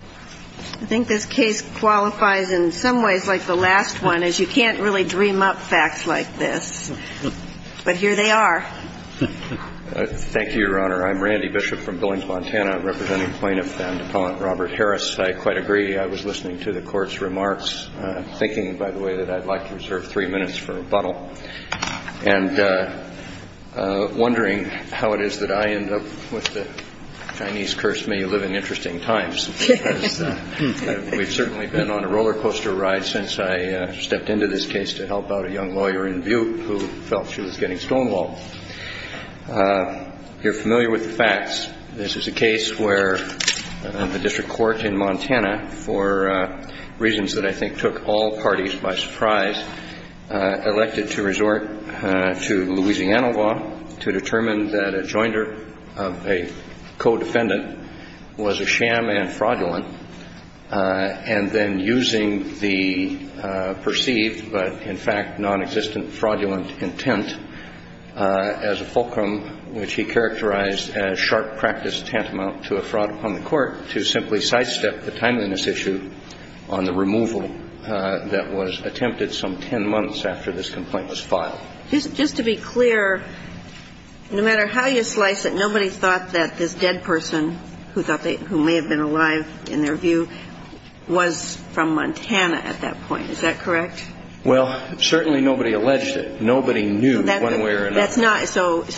I think this case qualifies in some ways like the last one, as you can't really dream up facts like this. But here they are. Thank you, Your Honor. I'm Randy Bishop from Billings, Montana, representing Plaintiff and Appellant Robert Harris. I quite agree. I was listening to the Court's remarks, thinking, by the way, that I'd like to reserve three minutes for rebuttal, and wondering how it is that I end up with the Chinese curse, may you live in interesting times. We've certainly been on a roller coaster ride since I stepped into this case to help out a young lawyer in Butte who felt she was getting stonewalled. If you're familiar with the facts, this is a case where the District Court in Montana, for reasons that I think took all parties by surprise, elected to resort to Louisiana to determine that a joinder of a co-defendant was a sham and fraudulent, and then using the perceived but, in fact, nonexistent fraudulent intent as a fulcrum, which he characterized as sharp practice tantamount to a fraud upon the Court, to simply sidestep the timeliness issue on the removal that was attempted some ten months after this complaint was filed. Just to be clear, no matter how you slice it, nobody thought that this dead person who may have been alive, in their view, was from Montana at that point, is that correct? Well, certainly nobody alleged it. Nobody knew one way or another. So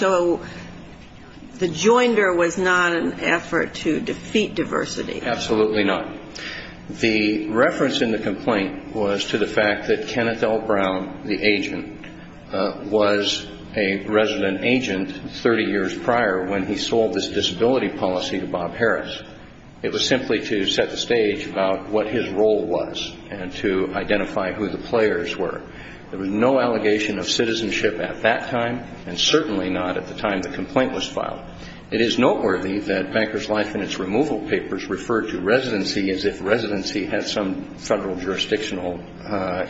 the joinder was not an effort to defeat diversity? Absolutely not. The reference in the complaint was to the fact that Kenneth L. Brown, the resident agent 30 years prior when he sold his disability policy to Bob Harris. It was simply to set the stage about what his role was and to identify who the players were. There was no allegation of citizenship at that time, and certainly not at the time the complaint was filed. It is noteworthy that Banker's Life and its removal papers refer to residency as if residency has some federal jurisdictional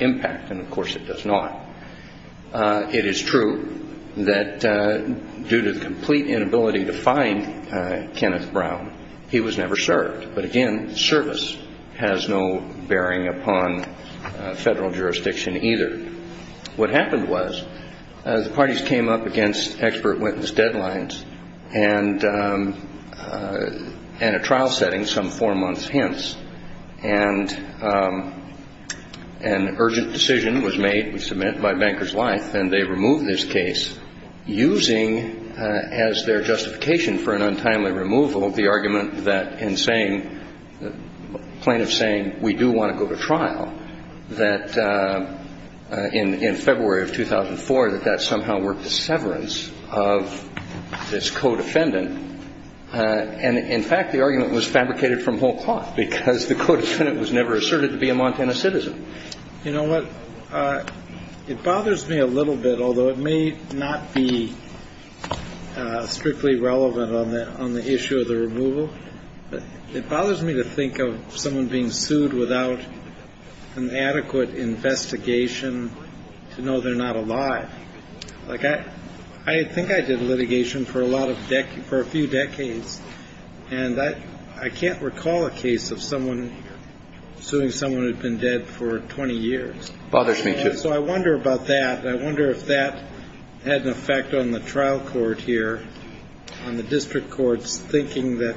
impact, and of course it does not. It is true that due to the complete inability to find Kenneth Brown, he was never served. But again, service has no bearing upon federal jurisdiction either. What happened was the parties came up against expert witness deadlines and a trial setting some four months hence, and an urgent decision was made, was submitted by Banker's Life, and they removed this case using as their justification for an untimely removal the argument that in saying, plaintiffs saying, we do want to go to trial, that in February of 2004, that that somehow worked as severance of this co-defendant. And in fact, the argument was fabricated from whole cloth because the co-defendant was never asserted to be a Montana citizen. You know what, it bothers me a little bit, although it may not be strictly relevant on the issue of the removal, but it bothers me to think of someone being sued without an adequate investigation to know they're not alive. Like, I think I did litigation for a lot of decades, for a few decades, and I can't recall a case of someone suing someone who had been dead for 20 years. It bothers me, too. So I wonder about that, and I wonder if that had an effect on the trial court here, on the district courts thinking that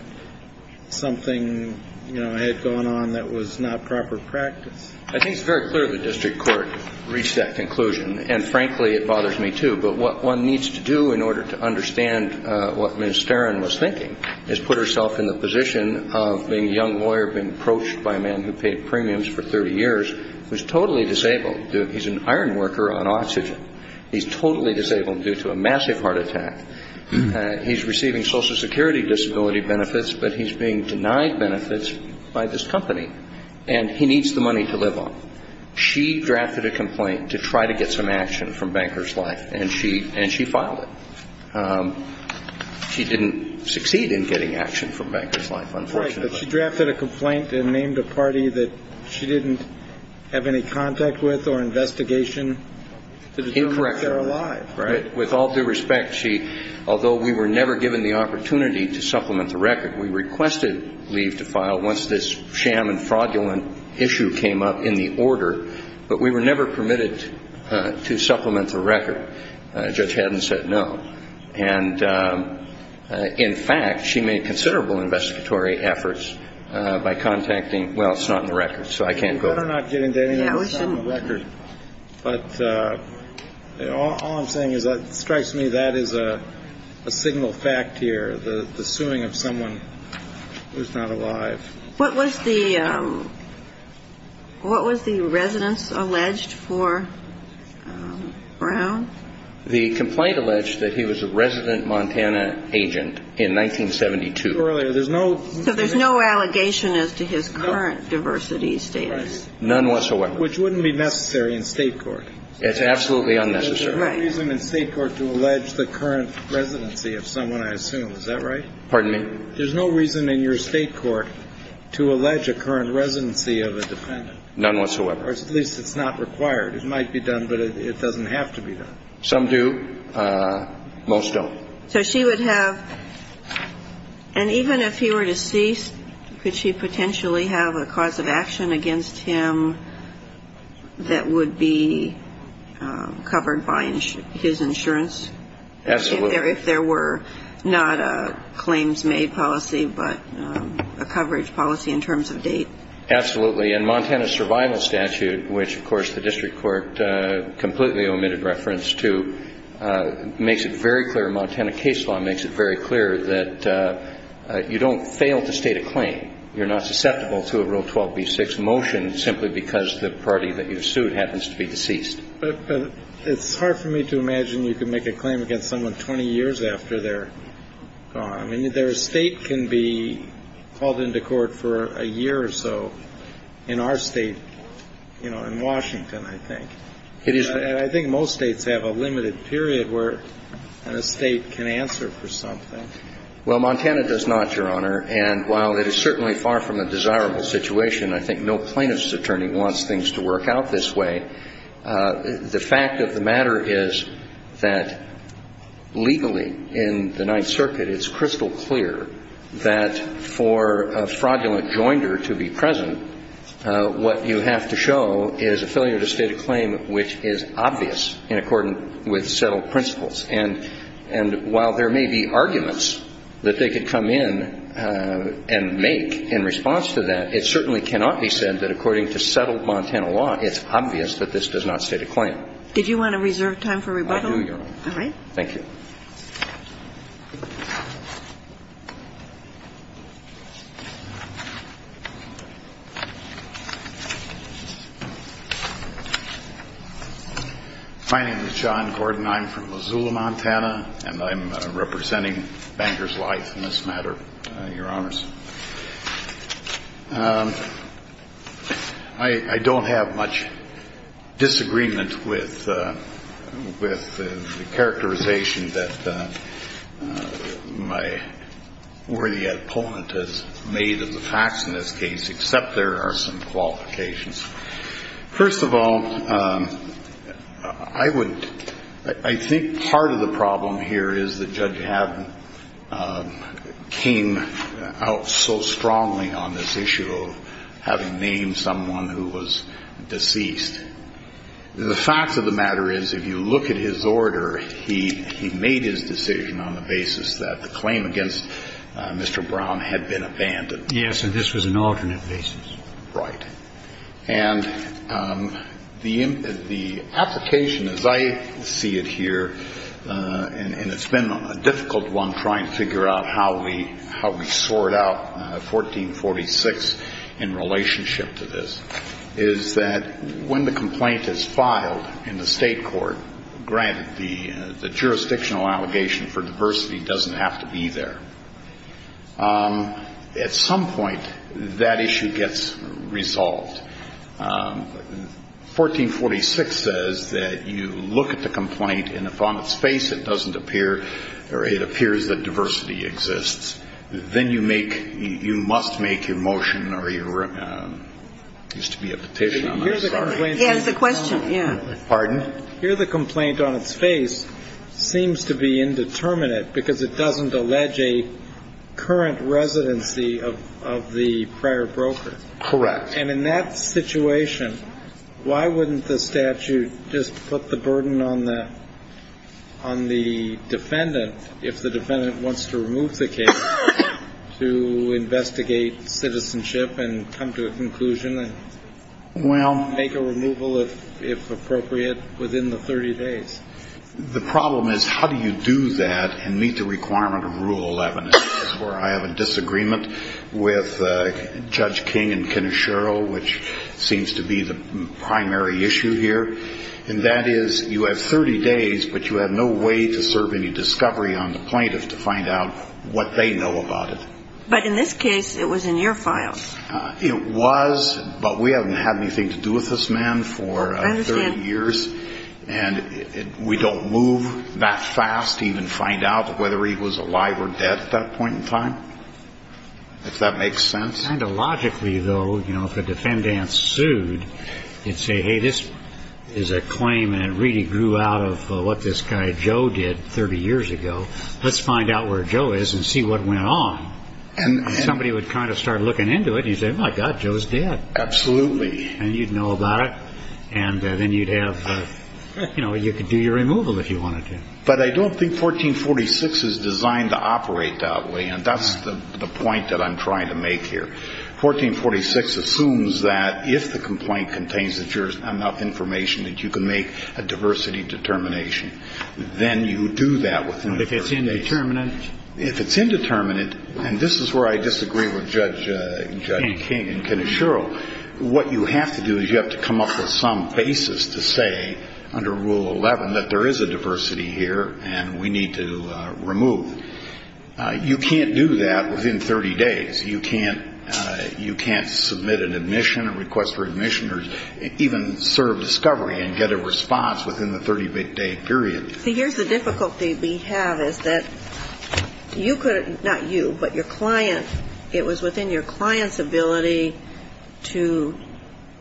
something, you know, had gone on that was not proper practice. I think it's very clear the district court reached that conclusion, and frankly, it bothers me, too. But what one needs to do in order to understand what Ms. Sterin was thinking is put herself in the position of being a young lawyer being approached by a man who paid premiums for 30 years, who's totally disabled. He's an iron worker on oxygen. He's totally disabled due to a massive heart attack. He's receiving Social Security disability benefits, but he's being denied benefits by this company, and he needs the money to live on. She drafted a complaint to try to get some action from Banker's Life, and she filed it. She didn't succeed in getting action from Banker's Life, unfortunately. Right. But she drafted a complaint and named a party that she didn't have any contact with or investigation to determine if they're alive, right? Incorrectly. With all due respect, she, although we were never given the opportunity to supplement the record, we requested leave to file once this sham and fraudulent issue came up in the order, but we were never permitted to supplement the record. Judge Haddon said no. And, in fact, she made considerable investigatory efforts by contacting, well, it's not in the record, so I can't go there. You'd better not get into anything that's not in the record. But all I'm saying is it strikes me that is a signal fact here, the suing of someone who's not alive. What was the residence alleged for Brown? The complaint alleged that he was a resident Montana agent in 1972. Earlier. So there's no allegation as to his current diversity status. None whatsoever. Which wouldn't be necessary in state court. It's absolutely unnecessary. There's no reason in state court to allege the current residency of someone, I assume. Is that right? Pardon me? There's no reason in your state court to allege a current residency of a defendant. None whatsoever. Or at least it's not required. It might be done, but it doesn't have to be done. Some do. Most don't. So she would have, and even if he were deceased, could she potentially have a cause of action against him that would be covered by his insurance? Absolutely. If there were not a claims made policy, but a coverage policy in terms of date. Absolutely. And Montana's survival statute, which, of course, the district court completely omitted reference to, makes it very clear, Montana case law makes it very clear that you don't fail to state a claim. You're not susceptible to a Rule 12b-6 motion simply because the party that you've sued happens to be deceased. But it's hard for me to imagine you can make a claim against someone 20 years after they're gone. I mean, their estate can be called into court for a year or so in our state, you know, in Washington, I think. And I think most states have a limited period where an estate can answer for something. Well, Montana does not, Your Honor. And while it is certainly far from a desirable situation, I think no plaintiff's attorney wants things to work out this way. The fact of the matter is that legally in the Ninth Circuit it's crystal clear that for a fraudulent joinder to be present, what you have to show is a failure to state a claim which is obvious in accordance with settled principles. And while there may be arguments that they could come in and make in response to that, it certainly cannot be said that according to settled Montana law it's obvious that this does not state a claim. Did you want to reserve time for rebuttal? I do, Your Honor. Thank you. My name is John Gordon. I'm from Missoula, Montana, and I'm representing Banker's Life in this matter, Your Honors. I don't have much disagreement with the characterization that my worthy opponent has made of the facts in this case, except there are some qualifications. First of all, I think part of the problem here is that Judge Haddon came out so strongly on this issue of having named someone who was deceased. The fact of the matter is if you look at his order, he made his decision on the basis that the claim against Mr. Brown had been abandoned. Yes, and this was an alternate basis. Right. And the application, as I see it here, and it's been a difficult one trying to figure out how we sort out 1446 in relationship to this, is that when the complaint is filed in the state court, granted the jurisdictional allegation for diversity doesn't have to be there, at some point that issue gets resolved. 1446 says that you look at the complaint, and if on its face it doesn't appear or it appears that diversity exists, then you make you must make your motion or your used to be a petition on this. Yes, the question. Pardon? Here the complaint on its face seems to be indeterminate because it doesn't allege a current residency of the prior broker. Correct. And in that situation, why wouldn't the statute just put the burden on the defendant if the defendant wants to remove the case to investigate citizenship and come to a conclusion and make a removal if appropriate? Within the 30 days. The problem is how do you do that and meet the requirement of Rule 11, where I have a disagreement with Judge King and Kenneth Sherrill, which seems to be the primary issue here, and that is you have 30 days, but you have no way to serve any discovery on the plaintiff to find out what they know about it. But in this case, it was in your files. It was, but we haven't had anything to do with this man for 30 years. And we don't move that fast to even find out whether he was alive or dead at that point in time, if that makes sense. Kind of logically, though, you know, if a defendant sued, you'd say, hey, this is a claim. And it really grew out of what this guy Joe did 30 years ago. Let's find out where Joe is and see what went on. And somebody would kind of start looking into it. He said, my God, Joe's dead. Absolutely. And you'd know about it. And then you'd have, you know, you could do your removal if you wanted to. But I don't think 1446 is designed to operate that way. And that's the point that I'm trying to make here. 1446 assumes that if the complaint contains enough information that you can make a diversity determination, then you do that. If it's indeterminate. If it's indeterminate, and this is where I disagree with Judge King and Kenneth Sherrill, what you have to do is you have to come up with some basis to say under Rule 11 that there is a diversity here and we need to remove. You can't do that within 30 days. You can't submit an admission or request for admission or even serve discovery and get a response within the 30-day period. See, here's the difficulty we have is that you could, not you, but your client, it was within your client's ability to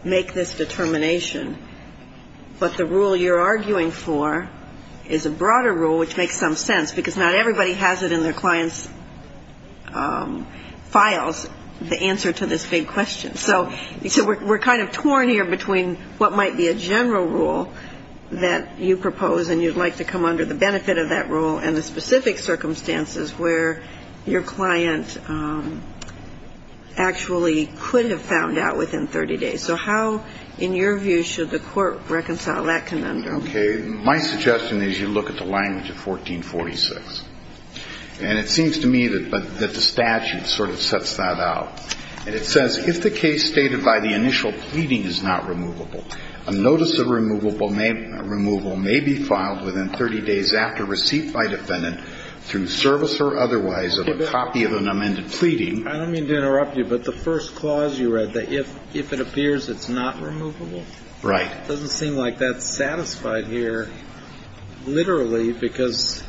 make this determination. But the rule you're arguing for is a broader rule, which makes some sense, because not everybody has it in their client's files, the answer to this big question. So we're kind of torn here between what might be a general rule that you propose, and you'd like to come under the benefit of that rule, and the specific circumstances where your client actually could have found out within 30 days. So how, in your view, should the court reconcile that conundrum? Okay. My suggestion is you look at the language of 1446. And it seems to me that the statute sort of sets that out. And it says if the case stated by the initial pleading is not removable, a notice of removal may be filed within 30 days after receipt by defendant through service or otherwise of a copy of an amended pleading. I don't mean to interrupt you, but the first clause you read, that if it appears it's not removable? Right. It doesn't seem like that's satisfied here, literally, because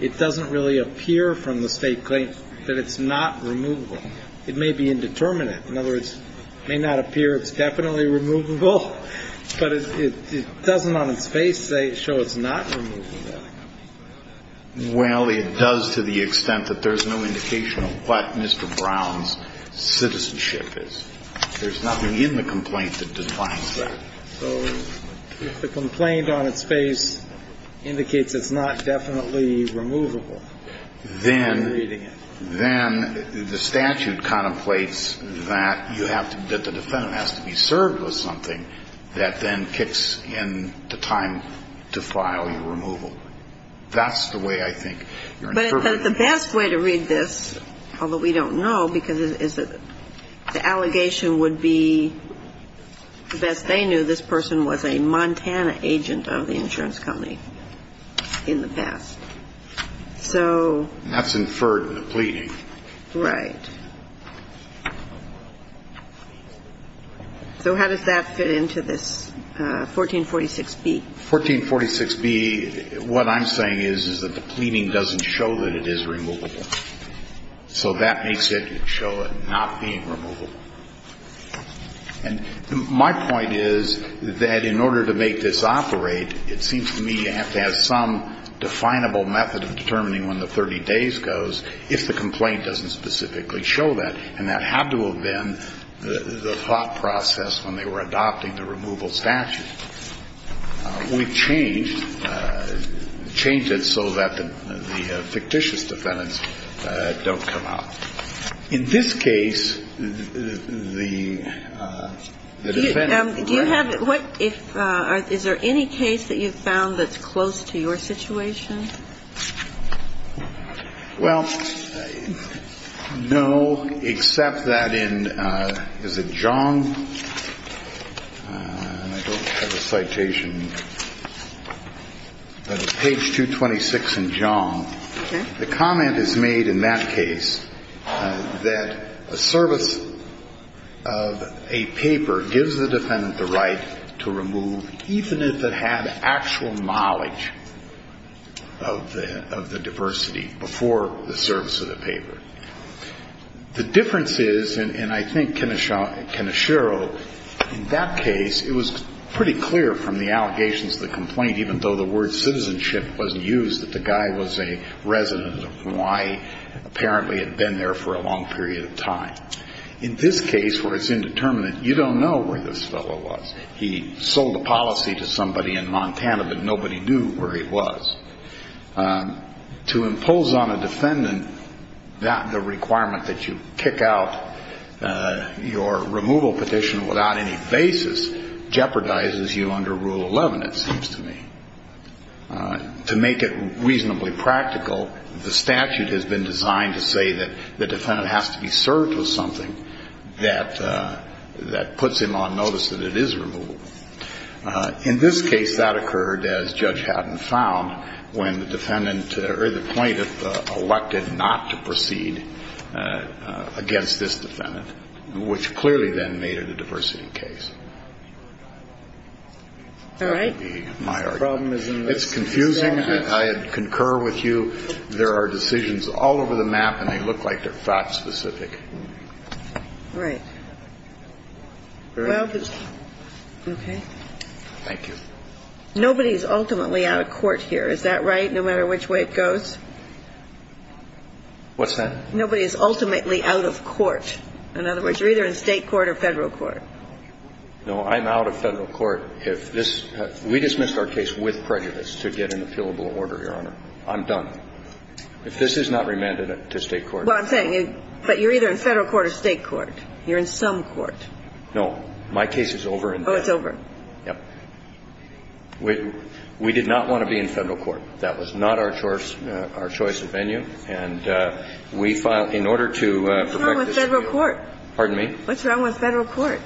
it doesn't really appear from the state claim that it's not removable. It may be indeterminate. In other words, it may not appear it's definitely removable, but it doesn't on its face show it's not removable. Well, it does to the extent that there's no indication of what Mr. Brown's citizenship is. There's nothing in the complaint that defines that. So if the complaint on its face indicates it's not definitely removable, I'm reading it. Then the statute contemplates that you have to be, that the defendant has to be served with something that then kicks in the time to file your removal. That's the way I think you're interpreting it. But the best way to read this, although we don't know because the allegation would be the best they knew, this person was a Montana agent of the insurance company in the past. So. That's inferred in the pleading. Right. So how does that fit into this 1446B? 1446B, what I'm saying is, is that the pleading doesn't show that it is removable. So that makes it show it not being removable. And my point is that in order to make this operate, it seems to me you have to have some definable method of determining when the 30 days goes if the complaint doesn't specifically show that. And that had to have been the thought process when they were adopting the removal statute. We've changed it so that the fictitious defendants don't come out. In this case, the defendant. Do you have, is there any case that you've found that's close to your situation? Well, no, except that in, is it Jong? I don't have a citation. Page 226 in Jong. Okay. The comment is made in that case that a service of a paper gives the defendant the right to remove even if it had actual knowledge of the diversity before the service of the paper. The difference is, and I think Kenesha, Kenesharo, in that case, it was pretty clear from the allegations of the complaint, even though the word citizenship wasn't used, that the guy was a resident of Hawaii, apparently had been there for a long period of time. In this case, where it's indeterminate, you don't know where this fellow was. He sold a policy to somebody in Montana, but nobody knew where he was. To impose on a defendant the requirement that you kick out your removal petition without any basis jeopardizes you under Rule 11, it seems to me. To make it reasonably practical, the statute has been designed to say that the defendant has to be served with something that puts him on notice that it is removable. In this case, that occurred, as Judge Haddon found, when the defendant or the plaintiff elected not to proceed against this defendant, which clearly then made it a diversity case. All right. It's confusing. I concur with you. There are decisions all over the map, and they look like they're fact-specific. Right. Okay. Thank you. Nobody is ultimately out of court here, is that right, no matter which way it goes? What's that? Nobody is ultimately out of court. In other words, you're either in state court or federal court. No, I'm out of federal court. We dismissed our case with prejudice to get an appealable order, Your Honor. I'm done. If this is not remanded to state court. Well, I'm saying, but you're either in federal court or state court. You're in some court. No. My case is over. Oh, it's over. Yep. We did not want to be in federal court. That was not our choice of venue. And we filed in order to. What's wrong with federal court? Pardon me? What's wrong with federal court?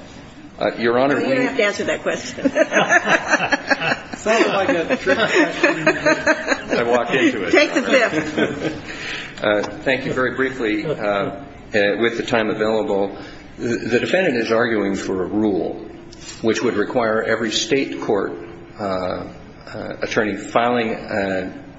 Your Honor, we. You don't have to answer that question. It sounded like a trick question. I walked into it. Take the tip. Thank you very briefly with the time available. The defendant is arguing for a rule which would require every state court attorney filing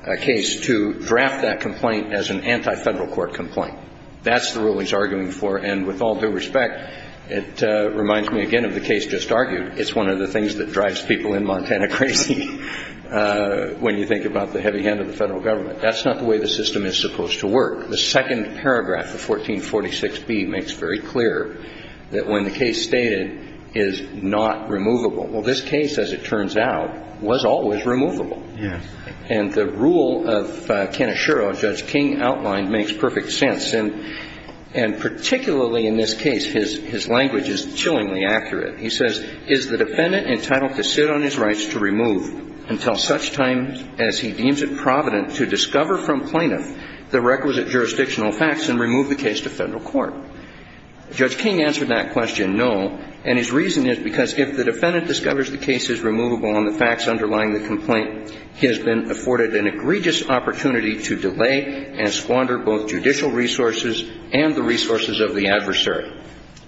a case to draft that complaint as an anti-federal court complaint. That's the rule he's arguing for. And with all due respect, it reminds me again of the case just argued. It's one of the things that drives people in Montana crazy when you think about the heavy hand of the federal government. That's not the way the system is supposed to work. The second paragraph of 1446B makes very clear that when the case stated is not removable. Well, this case, as it turns out, was always removable. Yes. And the rule of Ken Oshiro, Judge King outlined, makes perfect sense. He says is the defendant entitled to sit on his rights to remove until such time as he deems it provident to discover from plaintiff the requisite jurisdictional facts and remove the case to federal court? Judge King answered that question no, and his reason is because if the defendant discovers the case is removable on the facts underlying the complaint, he has been afforded an egregious opportunity to delay and squander both judicial resources and the resources of the adversary.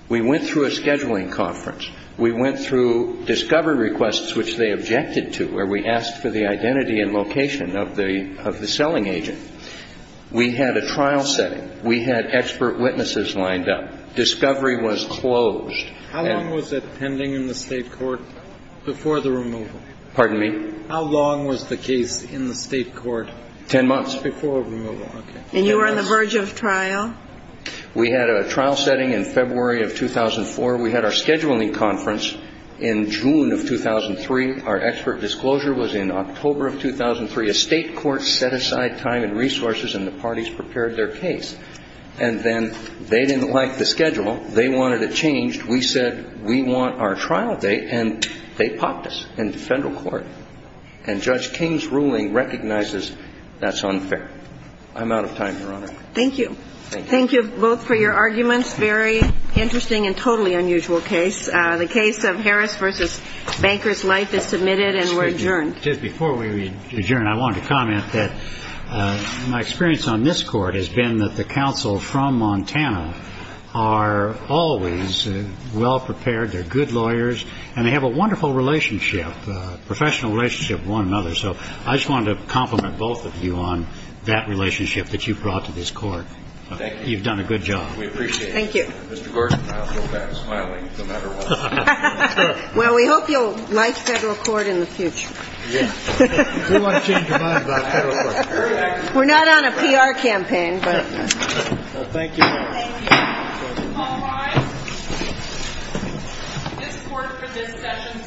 We went through a scheduling conference. We went through discovery requests, which they objected to, where we asked for the identity and location of the selling agent. We had a trial setting. We had expert witnesses lined up. Discovery was closed. How long was it pending in the State court before the removal? Pardon me? How long was the case in the State court? Ten months. Before removal. Okay. And you were on the verge of trial? We had a trial setting in February of 2004. We had our scheduling conference in June of 2003. Our expert disclosure was in October of 2003. A State court set aside time and resources, and the parties prepared their case. And then they didn't like the schedule. They wanted it changed. We said we want our trial date, and they popped us into federal court. And Judge King's ruling recognizes that's unfair. I'm out of time, Your Honor. Thank you. Thank you both for your arguments. Very interesting and totally unusual case. The case of Harris v. Banker's Life is submitted and we're adjourned. Just before we adjourn, I wanted to comment that my experience on this court has been that the counsel from Montana are always well prepared. They're good lawyers, and they have a wonderful relationship, professional relationship with one another. So I just wanted to compliment both of you on that relationship that you've brought to this court. Thank you. You've done a good job. We appreciate it. Thank you. Mr. Gordon, I'll go back to smiling no matter what. Well, we hope you'll like federal court in the future. Yes. We want to change your mind about federal court. We're not on a PR campaign, but. Thank you. Thank you. All rise. This court for this session stands adjourned.